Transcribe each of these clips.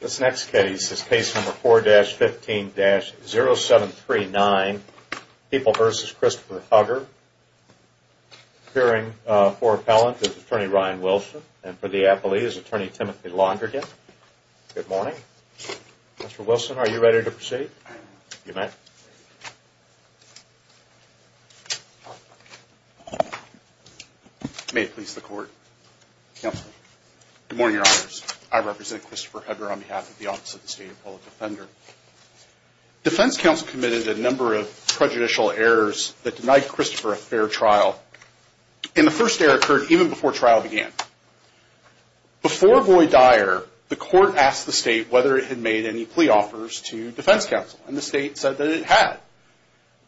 This next case is case number 4-15-0739 People v. Christopher Hugger. Appearing for appellant is Attorney Ryan Wilson and for the appellee is Attorney Timothy Laundrigan. Good morning. Mr. Wilson, are you ready to proceed? You may. May it please the court. Counsel. Good morning, Your Honors. I represent Christopher Hugger on behalf of the Office of the State Appellate Defender. Defense counsel committed a number of prejudicial errors that denied Christopher a fair trial. And the first error occurred even before trial began. Before Voight-Dyer, the court asked the state whether it had made any plea offers to defense counsel. And the state said that it had.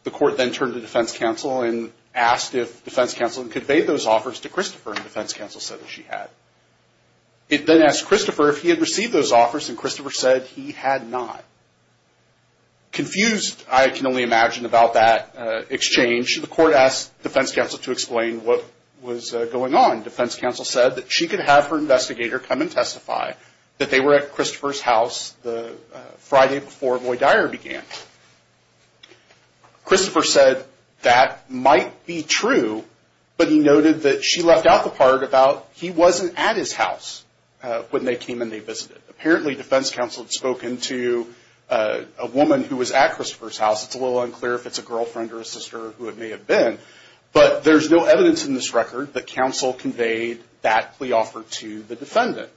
The court then turned to defense counsel and asked if defense counsel had conveyed those offers to Christopher, and defense counsel said that she had. It then asked Christopher if he had received those offers, and Christopher said he had not. Confused, I can only imagine, about that exchange, the court asked defense counsel to explain what was going on. Defense counsel said that she could have her investigator come and testify that they were at Christopher's house the Friday before Voight-Dyer began. Christopher said that might be true, but he noted that she left out the part about he wasn't at his house when they came and they visited. Apparently, defense counsel had spoken to a woman who was at Christopher's house. It's a little unclear if it's a girlfriend or a sister who it may have been. But there's no evidence in this record that counsel conveyed that plea offer to the defendant.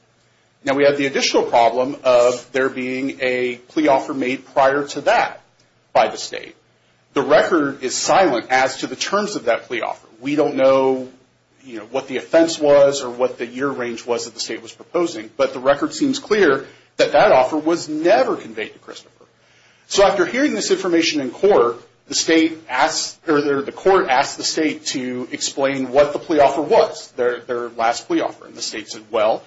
Now, we have the additional problem of there being a plea offer made prior to that by the state. The record is silent as to the terms of that plea offer. We don't know, you know, what the offense was or what the year range was that the state was proposing. But the record seems clear that that offer was never conveyed to Christopher. So after hearing this information in court, the court asked the state to explain what the plea offer was, their last plea offer. And the state said, well,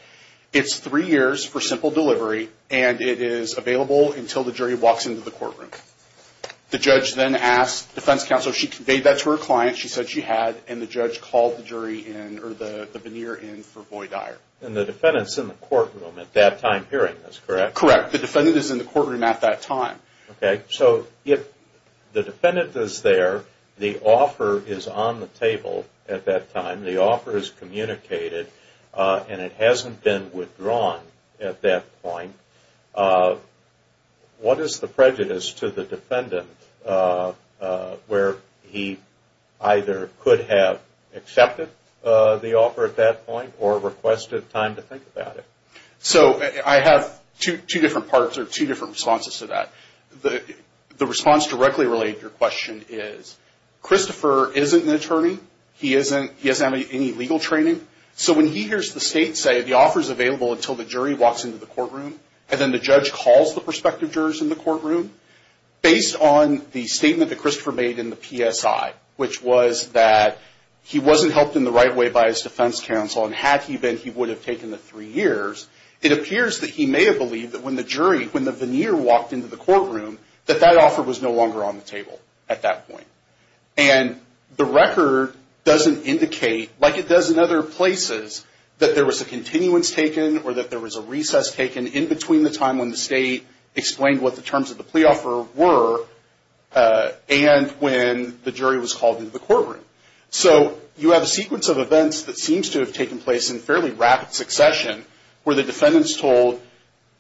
it's three years for simple delivery, and it is available until the jury walks into the courtroom. The judge then asked defense counsel if she conveyed that to her client. She said she had, and the judge called the jury in or the veneer in for Voight-Dyer. And the defendant's in the courtroom at that time hearing this, correct? Correct. The defendant is in the courtroom at that time. Okay. So if the defendant is there, the offer is on the table at that time. The offer is communicated, and it hasn't been withdrawn at that point. What is the prejudice to the defendant where he either could have accepted the offer at that point or requested time to think about it? So I have two different parts or two different responses to that. The response directly related to your question is Christopher isn't an attorney. He hasn't had any legal training. So when he hears the state say the offer is available until the jury walks into the courtroom, and then the judge calls the prospective jurors in the courtroom, based on the statement that Christopher made in the PSI, which was that he wasn't helped in the right way by his defense counsel, and had he been, he would have taken the three years, it appears that he may have believed that when the jury, when the veneer walked into the courtroom, that that offer was no longer on the table at that point. And the record doesn't indicate, like it does in other places, that there was a continuance taken or that there was a recess taken in between the time when the state explained what the terms of the plea offer were and when the jury was called into the courtroom. So you have a sequence of events that seems to have taken place in fairly rapid succession where the defendant is told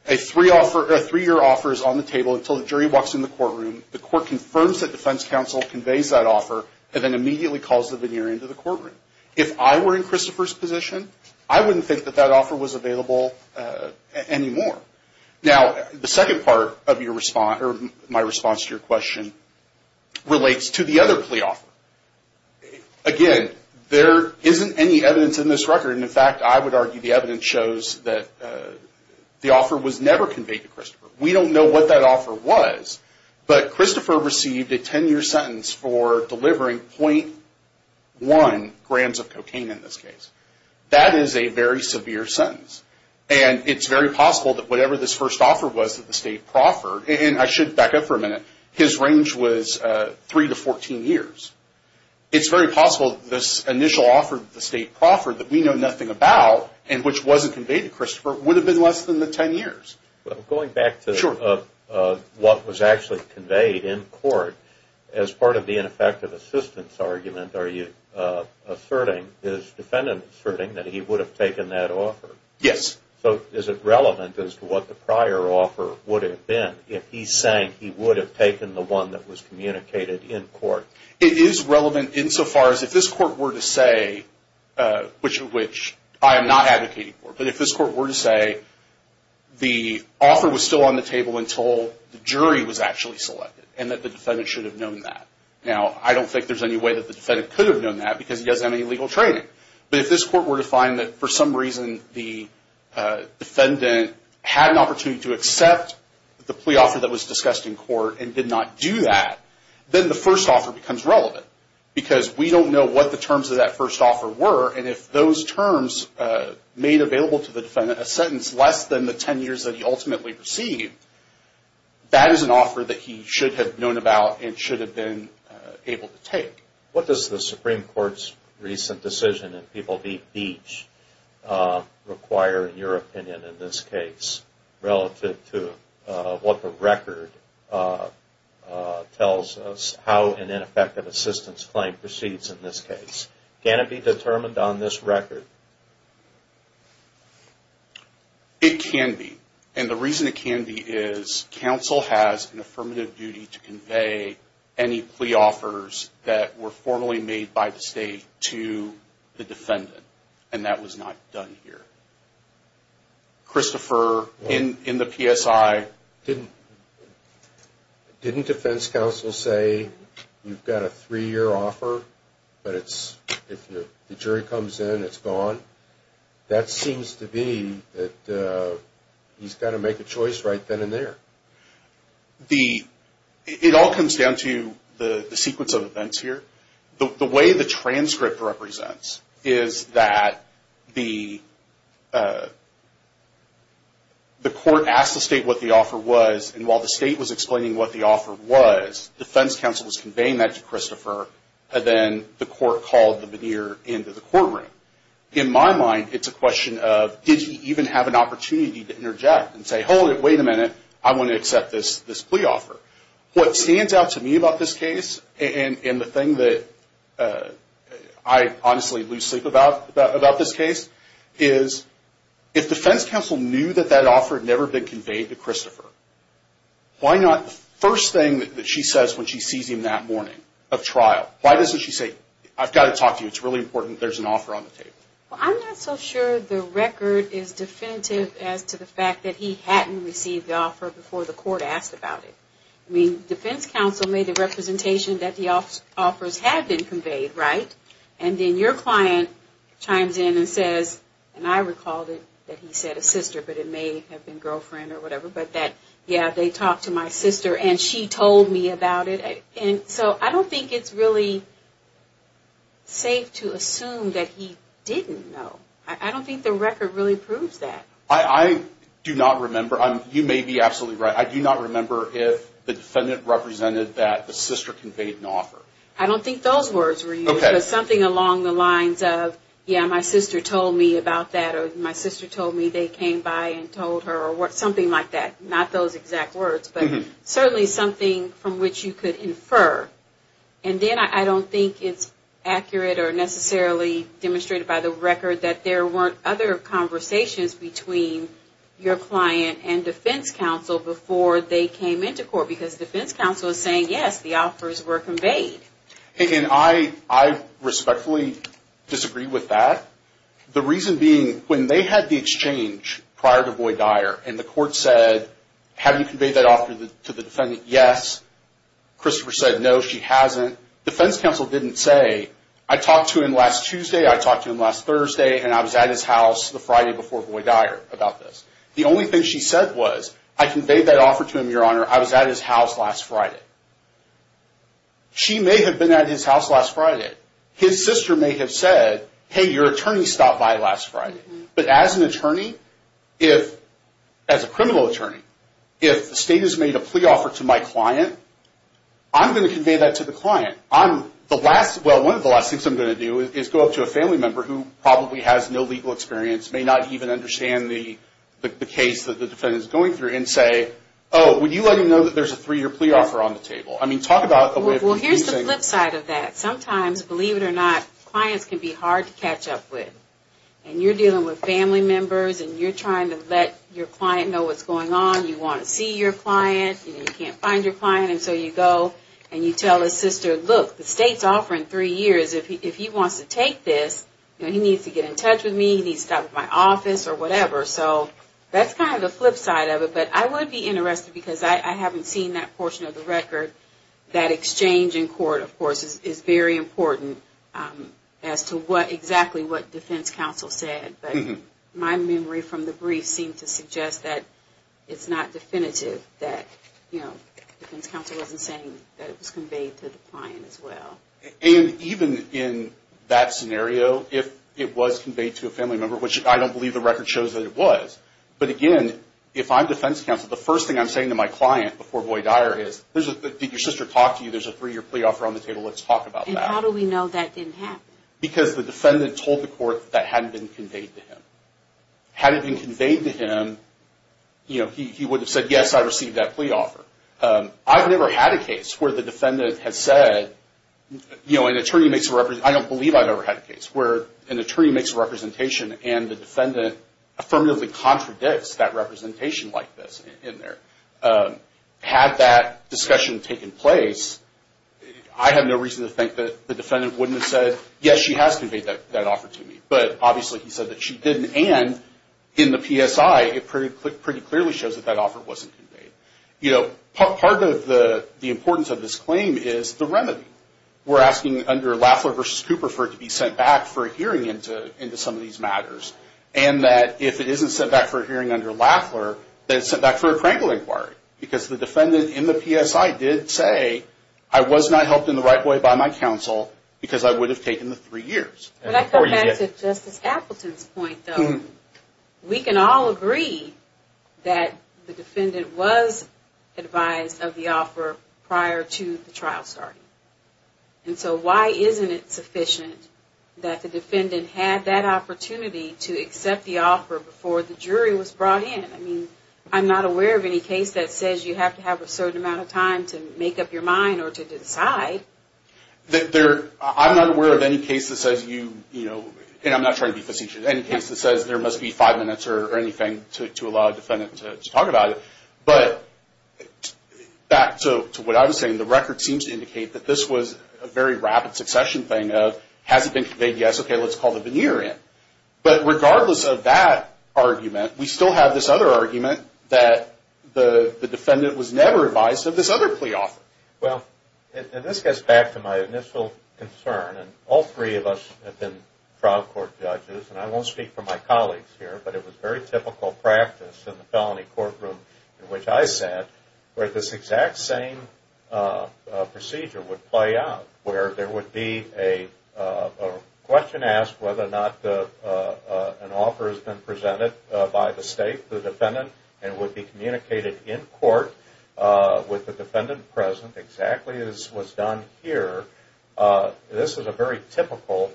a three-year offer is on the table until the jury walks into the courtroom. The court confirms that defense counsel conveys that offer and then immediately calls the veneer into the courtroom. If I were in Christopher's position, I wouldn't think that that offer was available anymore. Now, the second part of my response to your question relates to the other plea offer. Again, there isn't any evidence in this record, and in fact, I would argue the evidence shows that the offer was never conveyed to Christopher. We don't know what that offer was, but Christopher received a 10-year sentence for delivering 0.1 grams of cocaine in this case. That is a very severe sentence, and it's very possible that whatever this first offer was that the state proffered, and I should back up for a minute, his range was 3 to 14 years. It's very possible this initial offer that the state proffered that we know nothing about and which wasn't conveyed to Christopher would have been less than the 10 years. Well, going back to what was actually conveyed in court, as part of the ineffective assistance argument, are you asserting, is the defendant asserting that he would have taken that offer? Yes. So is it relevant as to what the prior offer would have been if he's saying he would have taken the one that was communicated in court? It is relevant insofar as if this court were to say, which I am not advocating for, but if this court were to say the offer was still on the table until the jury was actually selected and that the defendant should have known that. Now, I don't think there's any way that the defendant could have known that because he doesn't have any legal training, but if this court were to find that for some reason the defendant had an opportunity to accept the plea offer that was discussed in court and did not do that, then the first offer becomes relevant because we don't know what the terms of that first offer were, and if those terms made available to the defendant a sentence less than the 10 years that he ultimately received, that is an offer that he should have known about and should have been able to take. What does the Supreme Court's recent decision in People v. Beach require in your opinion in this case relative to what the record tells us how an ineffective assistance claim proceeds in this case? Can it be determined on this record? It can be, and the reason it can be is counsel has an affirmative duty to convey any plea offers that were formally made by the state to the defendant, and that was not done here. Christopher, in the PSI... Didn't defense counsel say you've got a three-year offer, but if the jury comes in, it's gone? That seems to be that he's got to make a choice right then and there. It all comes down to the sequence of events here. The way the transcript represents is that the court asked the state what the offer was, and while the state was explaining what the offer was, defense counsel was conveying that to Christopher, and then the court called the veneer into the courtroom. In my mind, it's a question of did he even have an opportunity to interject and say, hold it, wait a minute, I want to accept this plea offer. What stands out to me about this case, and the thing that I honestly lose sleep about this case, is if defense counsel knew that that offer had never been conveyed to Christopher, why not the first thing that she says when she sees him that morning of trial, why doesn't she say, I've got to talk to you, it's really important, there's an offer on the table? Well, I'm not so sure the record is definitive as to the fact that he hadn't received the offer before the court asked about it. I mean, defense counsel made a representation that the offers had been conveyed, right? And then your client chimes in and says, and I recalled it, that he said a sister, but it may have been girlfriend or whatever, but that, yeah, they talked to my sister, and she told me about it. And so I don't think it's really safe to assume that he didn't know. I don't think the record really proves that. I do not remember. You may be absolutely right. I do not remember if the defendant represented that the sister conveyed an offer. I don't think those words were used. It was something along the lines of, yeah, my sister told me about that, or my sister told me they came by and told her, or something like that. Not those exact words, but certainly something from which you could infer. And then I don't think it's accurate or necessarily demonstrated by the record that there weren't other conversations between your client and defense counsel before they came into court because defense counsel is saying, yes, the offers were conveyed. And I respectfully disagree with that. The reason being, when they had the exchange prior to Boyd-Dyer and the court said, have you conveyed that offer to the defendant? Yes. Christopher said, no, she hasn't. Defense counsel didn't say, I talked to him last Tuesday, I talked to him last Thursday, and I was at his house the Friday before Boyd-Dyer about this. The only thing she said was, I conveyed that offer to him, Your Honor, I was at his house last Friday. She may have been at his house last Friday. His sister may have said, hey, your attorney stopped by last Friday. But as an attorney, as a criminal attorney, if the state has made a plea offer to my client, I'm going to convey that to the client. Well, one of the last things I'm going to do is go up to a family member who probably has no legal experience, may not even understand the case that the defendant is going through, and say, oh, would you let him know that there's a three-year plea offer on the table? I mean, talk about a way of confusing. Well, here's the flip side of that. Sometimes, believe it or not, clients can be hard to catch up with. And you're dealing with family members, and you're trying to let your client know what's going on. You want to see your client, and you can't find your client, and so you go, and you tell his sister, look, the state's offering three years. If he wants to take this, he needs to get in touch with me, he needs to stop by my office, or whatever. So that's kind of the flip side of it. But I would be interested, because I haven't seen that portion of the record, that exchange in court, of course, is very important as to exactly what defense counsel said. But my memory from the brief seemed to suggest that it's not definitive, that defense counsel wasn't saying that it was conveyed to the client as well. And even in that scenario, if it was conveyed to a family member, which I don't believe the record shows that it was, but again, if I'm defense counsel, the first thing I'm saying to my client before boy dire is, did your sister talk to you, there's a three-year plea offer on the table, let's talk about that. And how do we know that didn't happen? Because the defendant told the court that hadn't been conveyed to him. Had it been conveyed to him, he would have said, yes, I received that plea offer. I've never had a case where the defendant has said, you know, an attorney makes a representation, I don't believe I've ever had a case where an attorney makes a representation and the defendant affirmatively contradicts that representation like this in there. Had that discussion taken place, I have no reason to think that the defendant wouldn't have said, yes, she has conveyed that offer to me. But obviously he said that she didn't, and in the PSI, it pretty clearly shows that that offer wasn't conveyed. You know, part of the importance of this claim is the remedy. We're asking under Lafler v. Cooper for it to be sent back for a hearing into some of these matters, and that if it isn't sent back for a hearing under Lafler, then it's sent back for a Krankel inquiry, because the defendant in the PSI did say, I was not helped in the right way by my counsel, because I would have taken the three years. When I come back to Justice Appleton's point, though, we can all agree that the defendant was advised of the offer prior to the trial starting. And so why isn't it sufficient that the defendant had that opportunity to accept the offer before the jury was brought in? I mean, I'm not aware of any case that says you have to have a certain amount of time to make up your mind or to decide. I'm not aware of any case that says you, you know, and I'm not trying to be facetious, any case that says there must be five minutes or anything to allow a defendant to talk about it. But back to what I was saying, the record seems to indicate that this was a very rapid succession thing of, has it been conveyed? Yes. Okay, let's call the veneer in. But regardless of that argument, we still have this other argument that the defendant was never advised of this other plea offer. Well, this gets back to my initial concern. All three of us have been trial court judges, and I won't speak for my colleagues here, but it was very typical practice in the felony courtroom in which I sat where this exact same procedure would play out, where there would be a question asked whether or not an offer has been presented by the State, the defendant, and would be communicated in court with the defendant present exactly as was done here. This is a very typical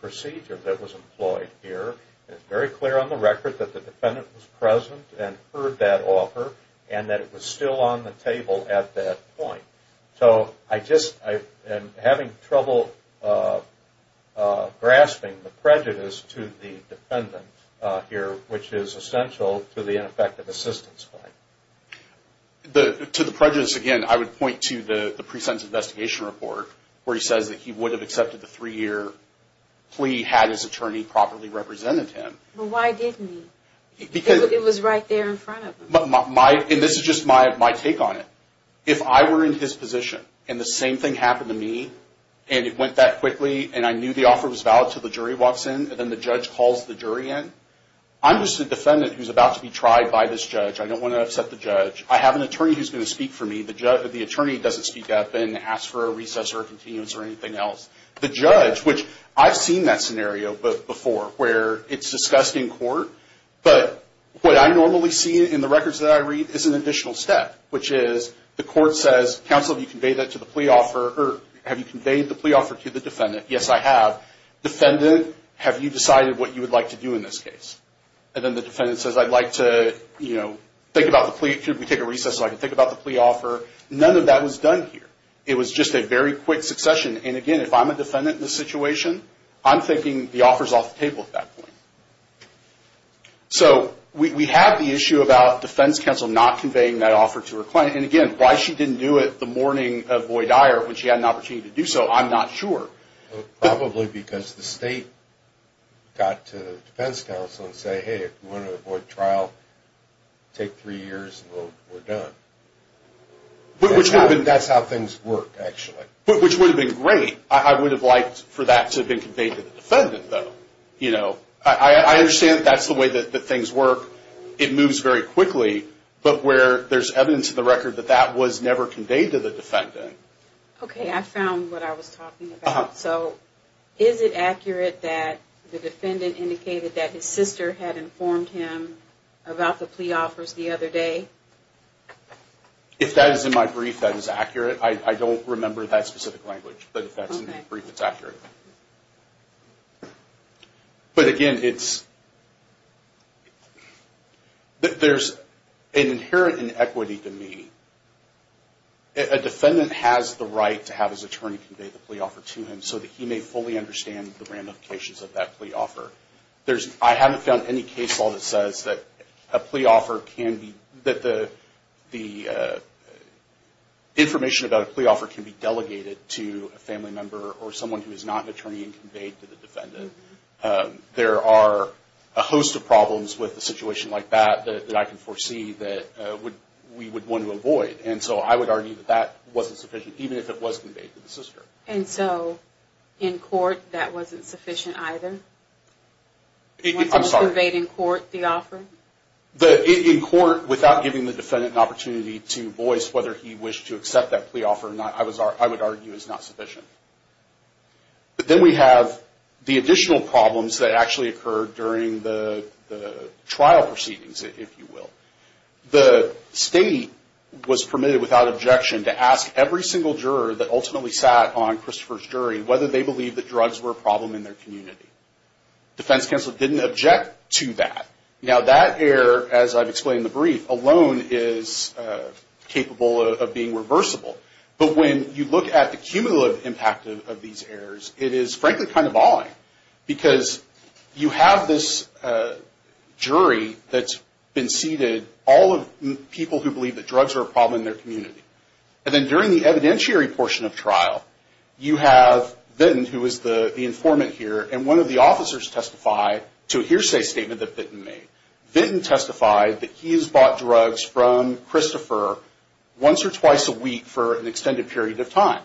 procedure that was employed here. It's very clear on the record that the defendant was present and heard that offer and that it was still on the table at that point. So I just am having trouble grasping the prejudice to the defendant here, which is essential to the ineffective assistance claim. To the prejudice, again, I would point to the pre-sentence investigation report, where he says that he would have accepted the three-year plea had his attorney properly represented him. But why didn't he? Because it was right there in front of him. And this is just my take on it. If I were in his position and the same thing happened to me and it went that quickly and I knew the offer was valid until the jury walks in and then the judge calls the jury in, I'm just a defendant who's about to be tried by this judge. I don't want to upset the judge. I have an attorney who's going to speak for me. The attorney doesn't speak up and ask for a recess or a continuance or anything else. The judge, which I've seen that scenario before where it's discussed in court, but what I normally see in the records that I read is an additional step, which is the court says, counsel, have you conveyed that to the plea offer or have you conveyed the plea offer to the defendant? Yes, I have. Defendant, have you decided what you would like to do in this case? And then the defendant says, I'd like to, you know, think about the plea. Could we take a recess so I can think about the plea offer? None of that was done here. It was just a very quick succession. And, again, if I'm a defendant in this situation, I'm thinking the offer's off the table at that point. So we have the issue about defense counsel not conveying that offer to her client. And, again, why she didn't do it the morning of Boyd Dyer when she had an opportunity to do so, I'm not sure. Probably because the state got to the defense counsel and said, hey, if you want to avoid trial, take three years and we're done. That's how things work, actually. Which would have been great. I would have liked for that to have been conveyed to the defendant, though. You know, I understand that's the way that things work. It moves very quickly. But where there's evidence in the record that that was never conveyed to the defendant. Okay, I found what I was talking about. So is it accurate that the defendant indicated that his sister had informed him about the plea offers the other day? If that is in my brief, that is accurate. I don't remember that specific language. But if that's in the brief, it's accurate. But, again, there's an inherent inequity to me. A defendant has the right to have his attorney convey the plea offer to him so that he may fully understand the ramifications of that plea offer. I haven't found any case law that says that the information about a plea offer can be delegated to a family member or someone who is not an attorney and conveyed to the defendant. There are a host of problems with a situation like that that I can foresee that we would want to avoid. And so I would argue that that wasn't sufficient, even if it was conveyed to the sister. And so, in court, that wasn't sufficient either? I'm sorry. To convey in court the offer? In court, without giving the defendant an opportunity to voice whether he wished to accept that plea offer, I would argue is not sufficient. But then we have the additional problems that actually occurred during the trial proceedings, if you will. The state was permitted, without objection, to ask every single juror that ultimately sat on Christopher's jury whether they believed that drugs were a problem in their community. Defense counsel didn't object to that. Now, that error, as I've explained in the brief, alone is capable of being reversible. But when you look at the cumulative impact of these errors, it is, frankly, kind of awing. Because you have this jury that's been seated, all of people who believe that drugs are a problem in their community. And then during the evidentiary portion of trial, you have Vinton, who is the informant here, and one of the officers testify to a hearsay statement that Vinton made. Vinton testified that he has bought drugs from Christopher once or twice a week for an extended period of time.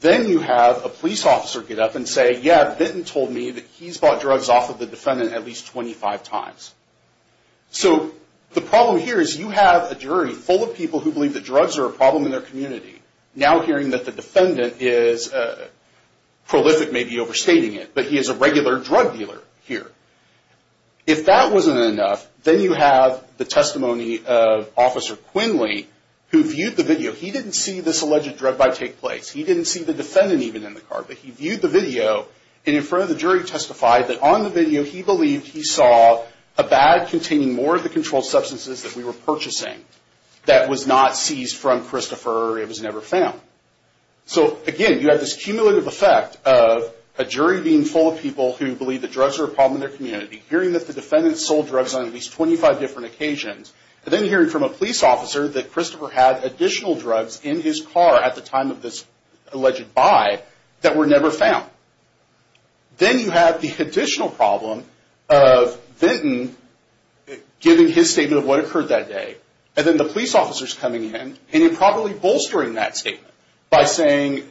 Then you have a police officer get up and say, yeah, Vinton told me that he's bought drugs off of the defendant at least 25 times. So the problem here is you have a jury full of people who believe that drugs are a problem in their community, now hearing that the defendant is prolific, maybe overstating it, but he is a regular drug dealer here. If that wasn't enough, then you have the testimony of Officer Quinley, who viewed the video. He didn't see this alleged drug buy take place. He didn't see the defendant even in the car. But he viewed the video, and in front of the jury testified that on the video, he believed he saw a bag containing more of the controlled substances that we were purchasing that was not seized from Christopher or it was never found. So, again, you have this cumulative effect of a jury being full of people who believe that drugs are a problem in their community, hearing that the defendant sold drugs on at least 25 different occasions, and then hearing from a police officer that Christopher had additional drugs in his car at the time of this alleged buy that were never found. Then you have the additional problem of Vinton giving his statement of what occurred that day, and then the police officers coming in and improperly bolstering that statement by saying,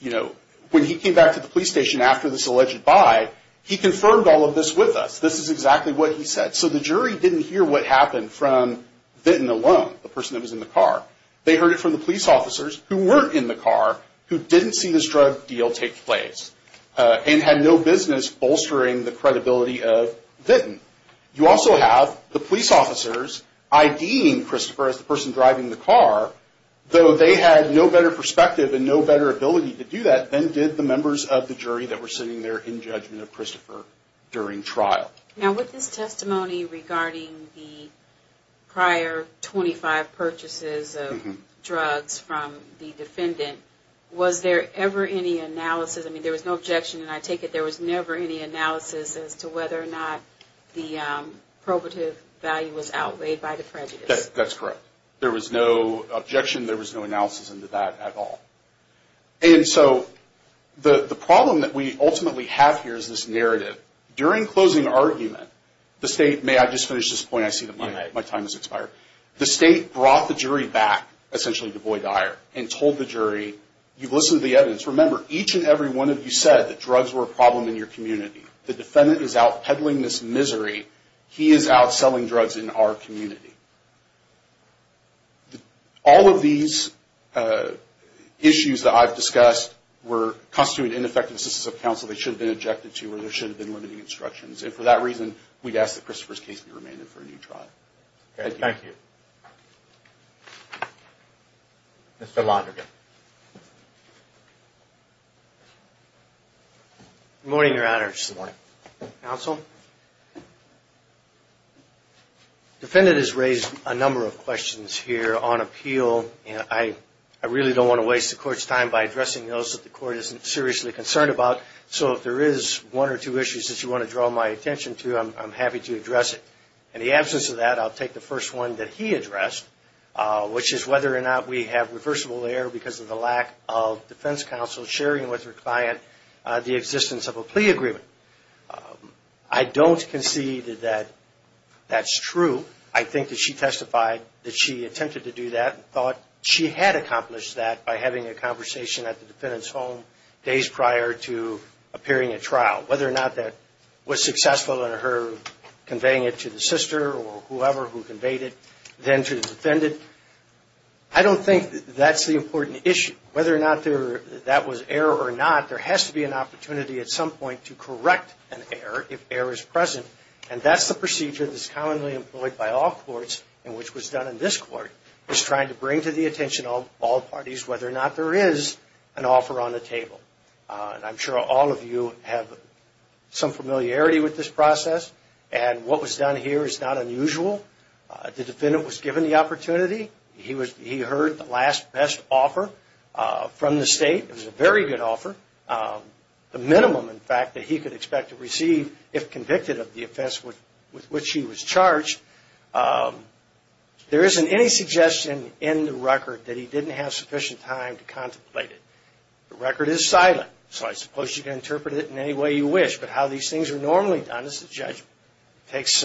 you know, when he came back to the police station after this alleged buy, he confirmed all of this with us. This is exactly what he said. So the jury didn't hear what happened from Vinton alone, the person that was in the car. They heard it from the police officers who weren't in the car, who didn't see this drug deal take place, and had no business bolstering the credibility of Vinton. You also have the police officers IDing Christopher as the person driving the car, though they had no better perspective and no better ability to do that than did the members of the jury that were sitting there in judgment of Christopher during trial. Now with this testimony regarding the prior 25 purchases of drugs from the defendant, was there ever any analysis, I mean there was no objection and I take it there was never any analysis as to whether or not the probative value was outweighed by the prejudice? That's correct. There was no objection, there was no analysis into that at all. And so the problem that we ultimately have here is this narrative. During closing argument, the state, may I just finish this point, I see that my time has expired, the state brought the jury back essentially to Boyd Dyer and told the jury, you've listened to the evidence, remember each and every one of you said that drugs were a problem in your community. The defendant is out peddling this misery, he is out selling drugs in our community. All of these issues that I've discussed were constituted ineffective instances of counsel that should have been ejected to or there should have been limiting instructions. And for that reason, we'd ask that Christopher's case be remanded for a new trial. Thank you. Mr. Lonergan. Good morning, Your Honor. Good morning. Counsel. Defendant has raised a number of questions here on appeal, and I really don't want to waste the court's time by addressing those that the court isn't seriously concerned about. So if there is one or two issues that you want to draw my attention to, I'm happy to address it. In the absence of that, I'll take the first one that he addressed, which is whether or not we have reversible error because of the lack of defense counsel sharing with their client the existence of a plea agreement. I don't concede that that's true. I think that she testified that she attempted to do that and thought she had accomplished that by having a conversation at the defendant's home days prior to appearing at trial. Whether or not that was successful in her conveying it to the sister or whoever who conveyed it, then to the defendant, I don't think that's the important issue. Whether or not that was error or not, there has to be an opportunity at some point to correct an error if error is present. And that's the procedure that's commonly employed by all courts and which was done in this court, is trying to bring to the attention of all parties whether or not there is an offer on the table. And I'm sure all of you have some familiarity with this process. And what was done here is not unusual. The defendant was given the opportunity. He heard the last best offer from the state. It was a very good offer. The minimum, in fact, that he could expect to receive if convicted of the offense with which he was charged. There isn't any suggestion in the record that he didn't have sufficient time to contemplate it. The record is silent, so I suppose you can interpret it in any way you wish. But how these things are normally done is the judge takes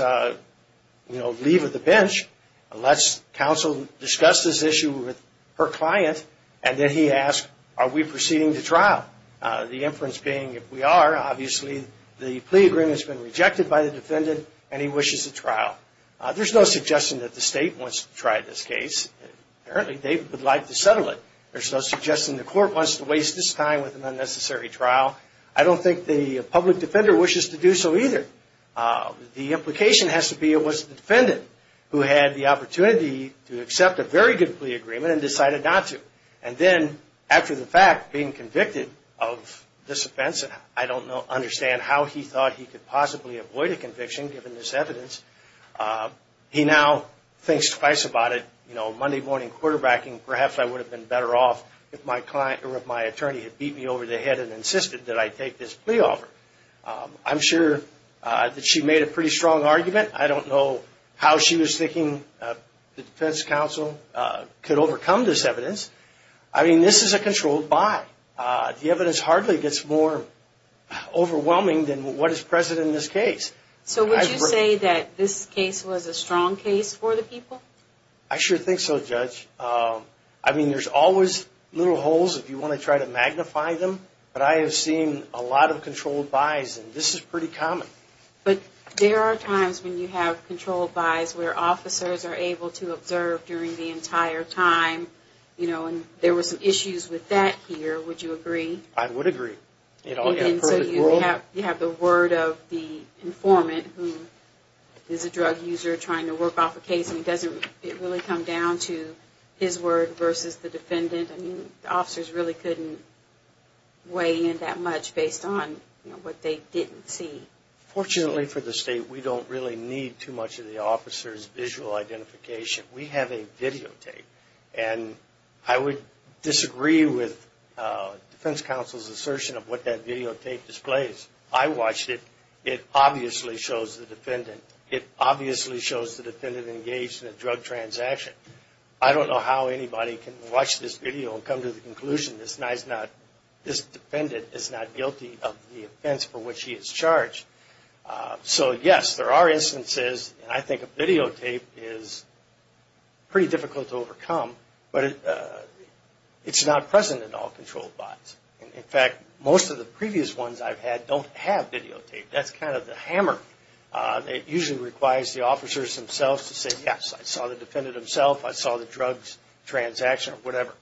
leave of the bench, lets counsel discuss this issue with her client, and then he asks, are we proceeding to trial? The inference being, if we are, obviously the plea agreement has been rejected by the defendant and he wishes a trial. There's no suggestion that the state wants to try this case. Apparently they would like to settle it. There's no suggestion the court wants to waste its time with an unnecessary trial. I don't think the public defender wishes to do so either. The implication has to be it was the defendant who had the opportunity to accept a very good plea agreement and decided not to. And then after the fact, being convicted of this offense, I don't understand how he thought he could possibly avoid a conviction given this evidence. He now thinks twice about it. Monday morning quarterbacking, perhaps I would have been better off if my attorney had beat me over the head and insisted that I take this plea offer. I'm sure that she made a pretty strong argument. I don't know how she was thinking the defense counsel could overcome this evidence. I mean, this is a controlled buy. The evidence hardly gets more overwhelming than what is present in this case. So would you say that this case was a strong case for the people? I sure think so, Judge. I mean, there's always little holes if you want to try to magnify them. But I have seen a lot of controlled buys, and this is pretty common. But there are times when you have controlled buys where officers are able to observe during the entire time. And there were some issues with that here. Would you agree? I would agree. You have the word of the informant who is a drug user trying to work off a case, and it doesn't really come down to his word versus the defendant. I mean, officers really couldn't weigh in that much based on what they didn't see. Fortunately for the state, we don't really need too much of the officer's visual identification. We have a videotape. And I would disagree with defense counsel's assertion of what that videotape displays. I watched it. It obviously shows the defendant. It obviously shows the defendant engaged in a drug transaction. I don't know how anybody can watch this video and come to the conclusion this defendant is not guilty of the offense for which he is charged. So yes, there are instances, and I think a videotape is pretty difficult to overcome. But it's not present in all controlled buys. In fact, most of the previous ones I've had don't have videotape. That's kind of the hammer. It usually requires the officers themselves to say, yes, I saw the defendant himself, I saw the drug transaction or whatever.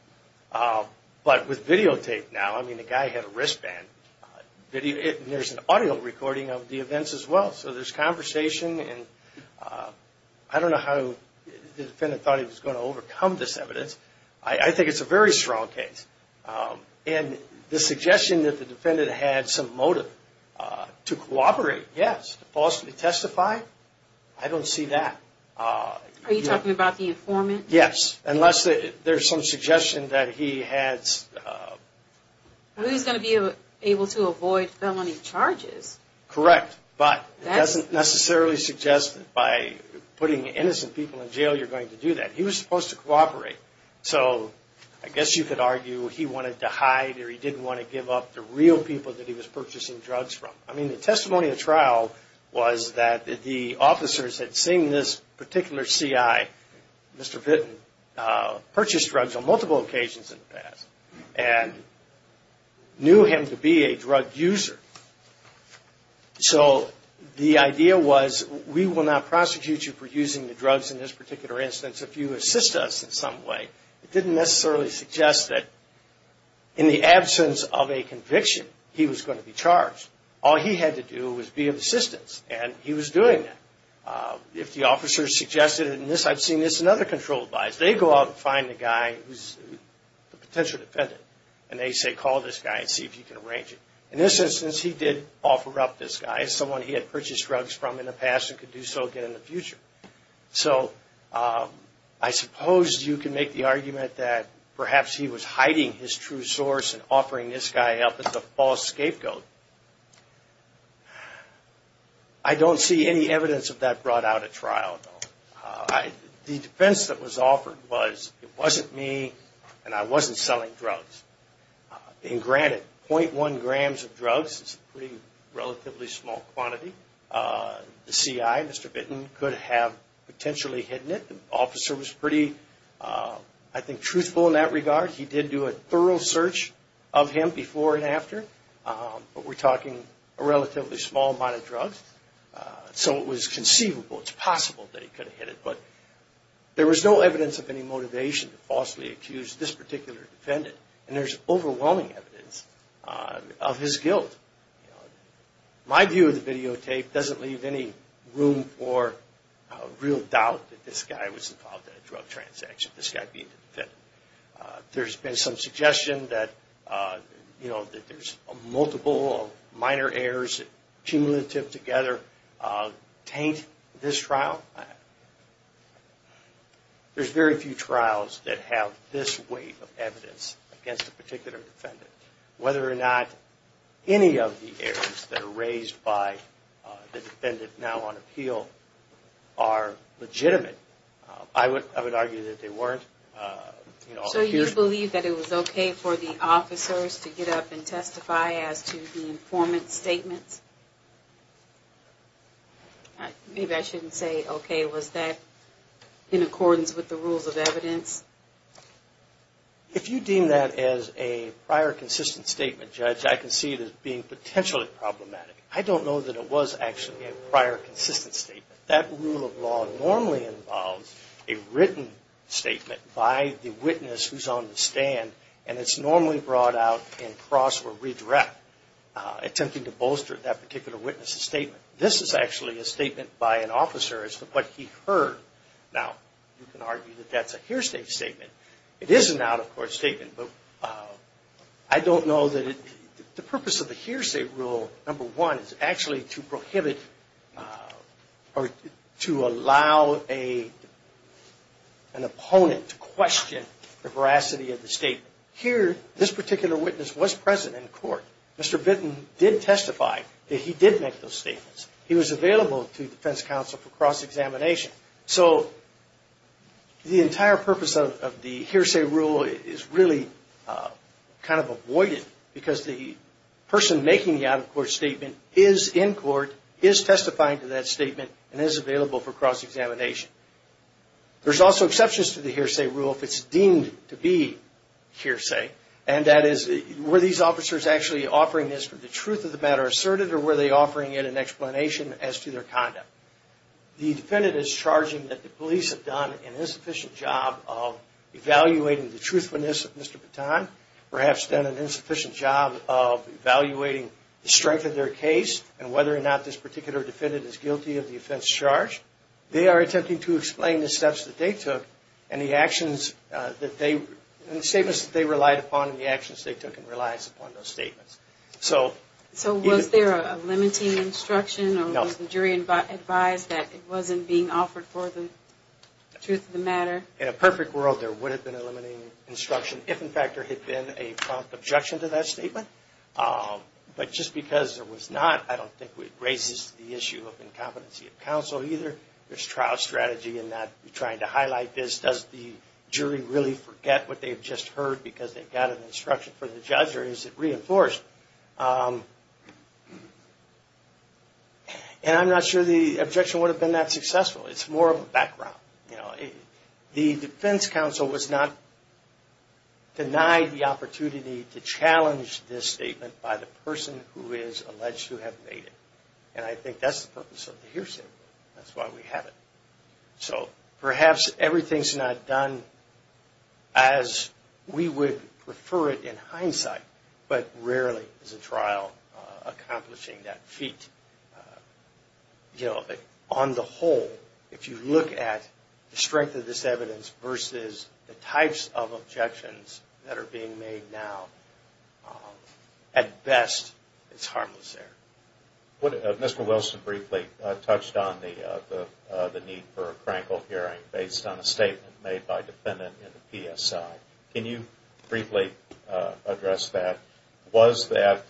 But with videotape now, I mean, the guy had a wristband. There's an audio recording of the events as well. So there's conversation, and I don't know how the defendant thought he was going to overcome this evidence. I think it's a very strong case. And the suggestion that the defendant had some motive to cooperate, yes, to falsely testify. I don't see that. Are you talking about the informant? Yes, unless there's some suggestion that he has... Who's going to be able to avoid felony charges? Correct, but it doesn't necessarily suggest that by putting innocent people in jail you're going to do that. He was supposed to cooperate. So I guess you could argue he wanted to hide or he didn't want to give up the real people that he was purchasing drugs from. I mean, the testimony of trial was that the officers had seen this particular C.I., Mr. Vitton, purchase drugs on multiple occasions in the past and knew him to be a drug user. So the idea was we will not prosecute you for using the drugs in this particular instance if you assist us in some way. It didn't necessarily suggest that in the absence of a conviction he was going to be charged. All he had to do was be of assistance, and he was doing that. If the officers suggested, and I've seen this in other controlled bodies, they go out and find the guy who's the potential defendant, and they say, call this guy and see if you can arrange it. In this instance, he did offer up this guy as someone he had purchased drugs from in the past and could do so again in the future. So I suppose you can make the argument that perhaps he was hiding his true source and offering this guy up as the false scapegoat. I don't see any evidence of that brought out at trial, though. The defense that was offered was it wasn't me, and I wasn't selling drugs. And granted, .1 grams of drugs is a pretty relatively small quantity. The C.I., Mr. Vitton, could have potentially hidden it. The officer was pretty, I think, truthful in that regard. He did do a thorough search of him before and after. But we're talking a relatively small amount of drugs. So it was conceivable, it's possible that he could have hid it. But there was no evidence of any motivation to falsely accuse this particular defendant. And there's overwhelming evidence of his guilt. My view of the videotape doesn't leave any room for real doubt that this guy was involved in a drug transaction, this guy being the defendant. There's been some suggestion that there's a multiple of minor errors cumulative together taint this trial. There's very few trials that have this wave of evidence against a particular defendant. Whether or not any of the errors that are raised by the defendant now on appeal are legitimate, I would argue that they weren't. So you believe that it was okay for the officers to get up and testify as to the informant's statements? Maybe I shouldn't say okay. Was that in accordance with the rules of evidence? If you deem that as a prior consistent statement, Judge, I can see it as being potentially problematic. I don't know that it was actually a prior consistent statement. That rule of law normally involves a written statement by the witness who's on the stand. And it's normally brought out in cross or redirect, attempting to bolster that particular witness's statement. This is actually a statement by an officer as to what he heard. Now, you can argue that that's a hearsay statement. It is an out-of-court statement, but I don't know that the purpose of the hearsay rule, number one, is actually to prohibit or to allow an opponent to question the veracity of the statement. Mr. Bitten did testify that he did make those statements. He was available to defense counsel for cross-examination. So the entire purpose of the hearsay rule is really kind of avoided, because the person making the out-of-court statement is in court, is testifying to that statement, and is available for cross-examination. There's also exceptions to the hearsay rule if it's deemed to be hearsay, and that is were these officers actually offering this for the truth of the matter asserted, or were they offering it an explanation as to their conduct? The defendant is charging that the police have done an insufficient job of evaluating the truthfulness of Mr. Bitten, perhaps done an insufficient job of evaluating the strength of their case, and whether or not this particular defendant is guilty of the offense charged. They are attempting to explain the steps that they took and the actions that they, and the statements that they relied upon and the actions they took in reliance upon those statements. So was there a limiting instruction, or was the jury advised that it wasn't being offered for the truth of the matter? In a perfect world, there would have been a limiting instruction, if in fact there had been a prompt objection to that statement. But just because there was not, I don't think it raises the issue of incompetency of counsel either. There's trial strategy in that trying to highlight this. Does the jury really forget what they've just heard because they got an instruction from the judge, or is it reinforced? And I'm not sure the objection would have been that successful. It's more of a background. The defense counsel was not denied the opportunity to challenge this statement by the person who is alleged to have made it. And I think that's the purpose of the hearsay. That's why we have it. So perhaps everything's not done as we would prefer it in hindsight, but rarely is a trial accomplishing that feat. On the whole, if you look at the strength of this evidence versus the types of objections that are being made now, at best, it's harmless there. Mr. Wilson briefly touched on the need for a crankle hearing based on a statement made by a defendant in the PSI. Can you briefly address that? Was that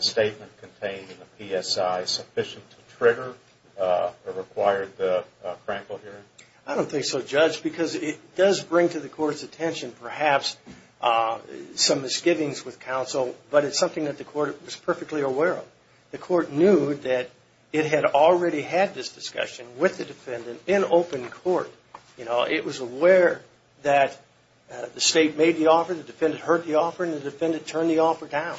statement contained in the PSI sufficient to trigger or require the crankle hearing? I don't think so, Judge, because it does bring to the Court's attention perhaps some misgivings with counsel, but it's something that the Court was perfectly aware of. The Court knew that it had already had this discussion with the defendant in open court. It was aware that the State made the offer, the defendant heard the offer, and the defendant turned the offer down.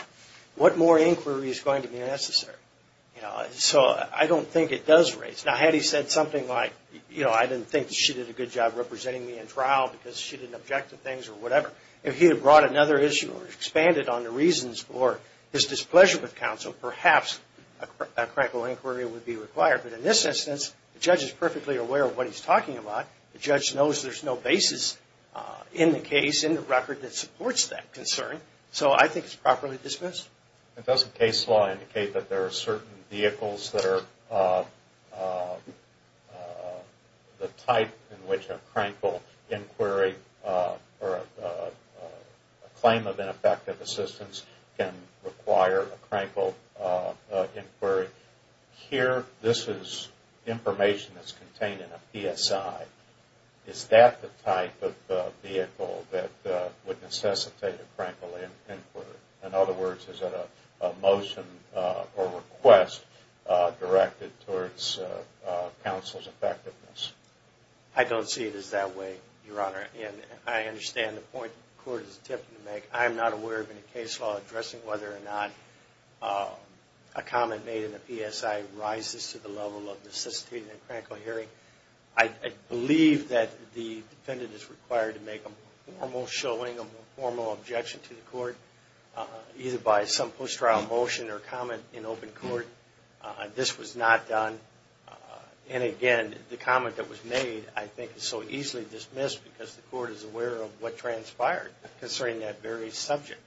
What more inquiry is going to be necessary? So I don't think it does raise... Now, had he said something like, I didn't think she did a good job representing me in trial because she didn't object to things or whatever, if he had brought another issue or expanded on the reasons for his displeasure with counsel, perhaps a crankle inquiry would be required. But in this instance, the judge is perfectly aware of what he's talking about. The judge knows there's no basis in the case, in the record, that supports that concern. So I think it's properly dismissed. Doesn't case law indicate that there are certain vehicles that are the type in which a crankle inquiry or a claim of ineffective assistance can require a crankle inquiry? Here, this is information that's contained in a PSI. Is that the type of vehicle that would necessitate a crankle inquiry? In other words, is it a motion or request directed towards counsel's effectiveness? I don't see it as that way, Your Honor, and I understand the point the Court is attempting to make. I am not aware of any case law addressing whether or not a comment made in a PSI rises to the level of necessitating a crankle hearing. I believe that the defendant is required to make a formal showing, a formal objection to the Court, either by some post-trial motion or comment in open court. This was not done. And again, the comment that was made, I think, is so easily dismissed because the Court is aware of what transpired concerning that very subject.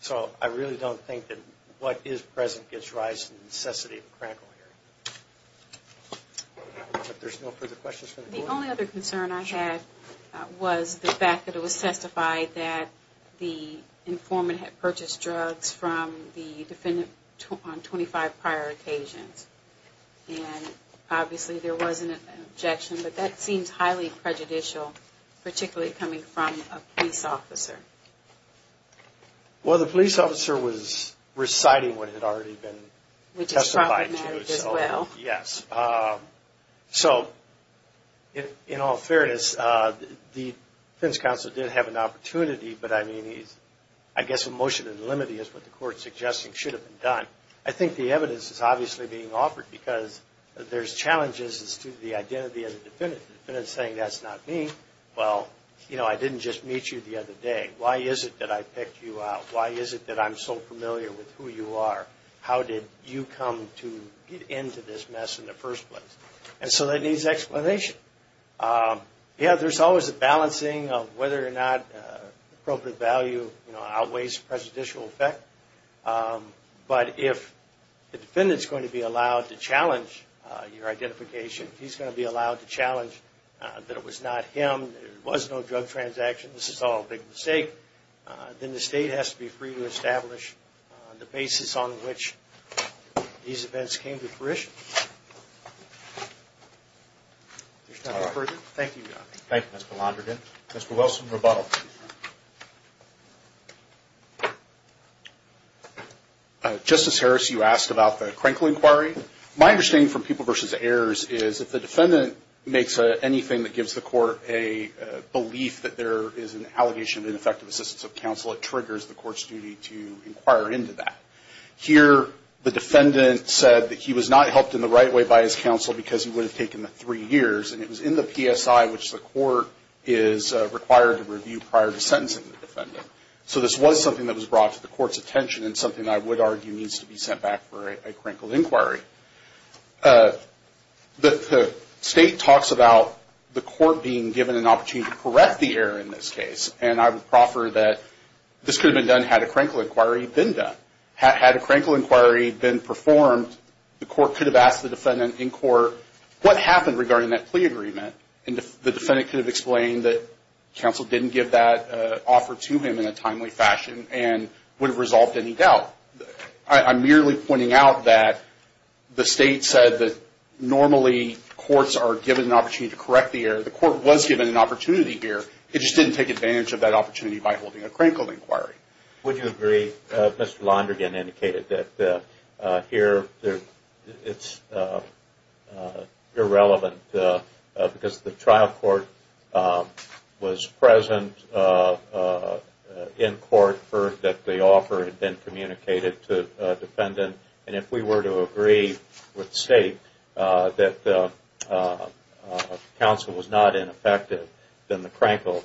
So I really don't think that what is present gets rised to the necessity of a crankle hearing. If there's no further questions from the Court. The only other concern I had was the fact that it was testified that the informant had purchased drugs from the defendant on 25 prior occasions. And obviously there was an objection, but that seems highly prejudicial, particularly coming from a police officer. Well, the police officer was reciting what had already been testified to. Which is problematic as well. Yes. So, in all fairness, the defense counsel did have an opportunity, but I mean, I guess a motion to the limit is what the Court is suggesting should have been done. I think the evidence is obviously being offered because there's challenges as to the identity of the defendant. The defendant is saying, that's not me. Well, you know, I didn't just meet you the other day. Why is it that I picked you out? Why is it that I'm so familiar with who you are? How did you come to get into this mess in the first place? And so that needs explanation. Yeah, there's always a balancing of whether or not appropriate value outweighs prejudicial effect. But if the defendant is going to be allowed to challenge your identification, if he's going to be allowed to challenge that it was not him, that it was no drug transaction, this is all a big mistake, then the State has to be free to establish the basis on which these events came to fruition. Thank you, Mr. Londrigan. Mr. Wilson, rebuttal. Justice Harris, you asked about the Krenkel inquiry. My understanding from People v. Ayers is that the defendant makes anything that gives the Court a belief that there is an allegation of ineffective assistance of counsel, it triggers the Court's duty to inquire into that. Here the defendant said that he was not helped in the right way by his counsel because he would have taken the three years, and it was in the PSI which the Court is required to review prior to sentencing the defendant. So this was something that was brought to the Court's attention and something I would argue needs to be sent back for a Krenkel inquiry. The State talks about the Court being given an opportunity to correct the error in this case, and I would proffer that this could have been done had a Krenkel inquiry been done. Had a Krenkel inquiry been performed, the Court could have asked the defendant in court, what happened regarding that plea agreement? And the defendant could have explained that counsel didn't give that offer to him in a timely fashion and would have resolved any doubt. I'm merely pointing out that the State said that normally Courts are given an opportunity to correct the error. The Court was given an opportunity here, it just didn't take advantage of that opportunity by holding a Krenkel inquiry. Would you agree that Mr. Londrigan indicated that here it's irrelevant because the trial court was present in court, and the court heard that the offer had been communicated to the defendant, and if we were to agree with the State that counsel was not ineffective, then the Krenkel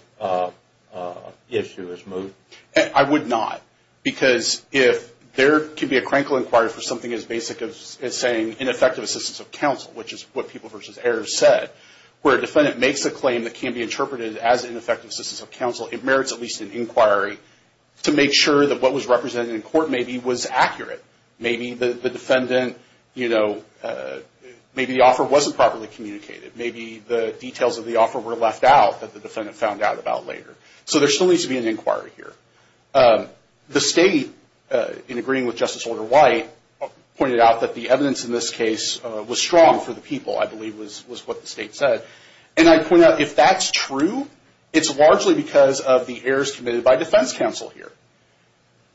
issue is moved? I would not, because if there can be a Krenkel inquiry for something as basic as saying ineffective assistance of counsel, which is what People v. Ayers said, where a defendant makes a claim that can be interpreted as ineffective assistance of counsel, it merits at least an inquiry to make sure that what was represented in court maybe was accurate. Maybe the defendant, you know, maybe the offer wasn't properly communicated. Maybe the details of the offer were left out that the defendant found out about later. So there still needs to be an inquiry here. The State, in agreeing with Justice Order White, pointed out that the evidence in this case was strong for the People, I believe, was what the State said, and I point out if that's true, it's largely because of the errors committed by defense counsel here.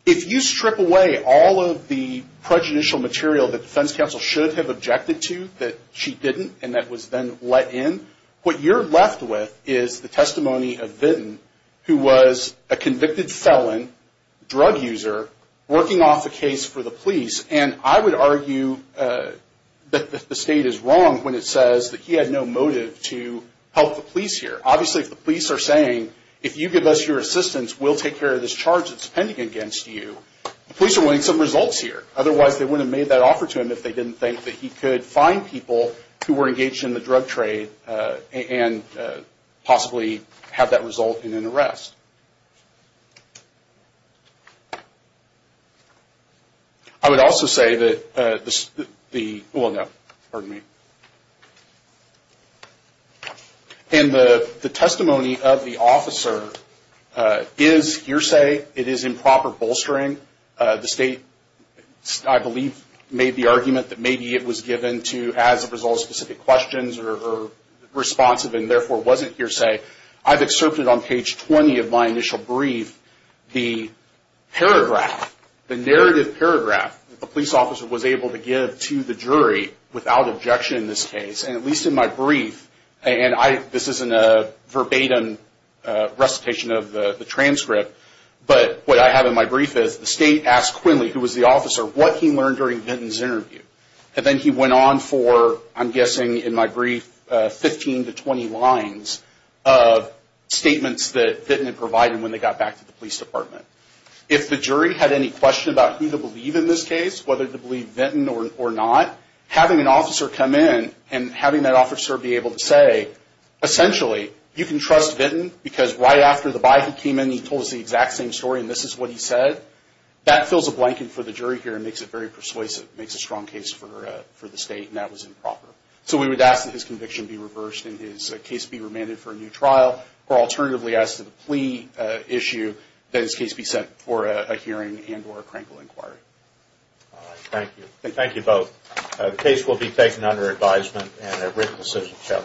If you strip away all of the prejudicial material that defense counsel should have objected to that she didn't, and that was then let in, what you're left with is the testimony of Vidden, who was a convicted felon, drug user, working off a case for the police, and I would argue that the State is wrong when it says that he had no motive to help the police here. Obviously, if the police are saying, if you give us your assistance, we'll take care of this charge that's pending against you, the police are wanting some results here. Otherwise, they wouldn't have made that offer to him if they didn't think that he could find people who were engaged in the drug trade and possibly have that result in an arrest. I would also say that the... Well, no, pardon me. And the testimony of the officer is hearsay. It is improper bolstering. The State, I believe, made the argument that maybe it was given to as a result of specific questions or responsive and therefore wasn't hearsay. I've excerpted on page 20 of my initial brief the paragraph, the narrative paragraph, that the police officer was able to give to the jury without objection in this case, and at least in my brief, and this isn't a verbatim recitation of the transcript, but what I have in my brief is the State asked Quinley, who was the officer, what he learned during Vinton's interview. And then he went on for, I'm guessing in my brief, 15 to 20 lines of statements that Vinton had provided when they got back to the police department. If the jury had any question about who to believe in this case, whether to believe Vinton or not, having an officer come in and having that officer be able to say, essentially, you can trust Vinton because right after the Bible came in, he told us the exact same story, and this is what he said, that fills a blanket for the jury here and makes it very persuasive. It makes a strong case for the State, and that was improper. So we would ask that his conviction be reversed and his case be remanded for a new trial, or alternatively ask that the plea issue, that his case be sent for a hearing and or a crankle inquiry. Thank you. Thank you both. The case will be taken under advisement and a written decision shall issue. Thank you.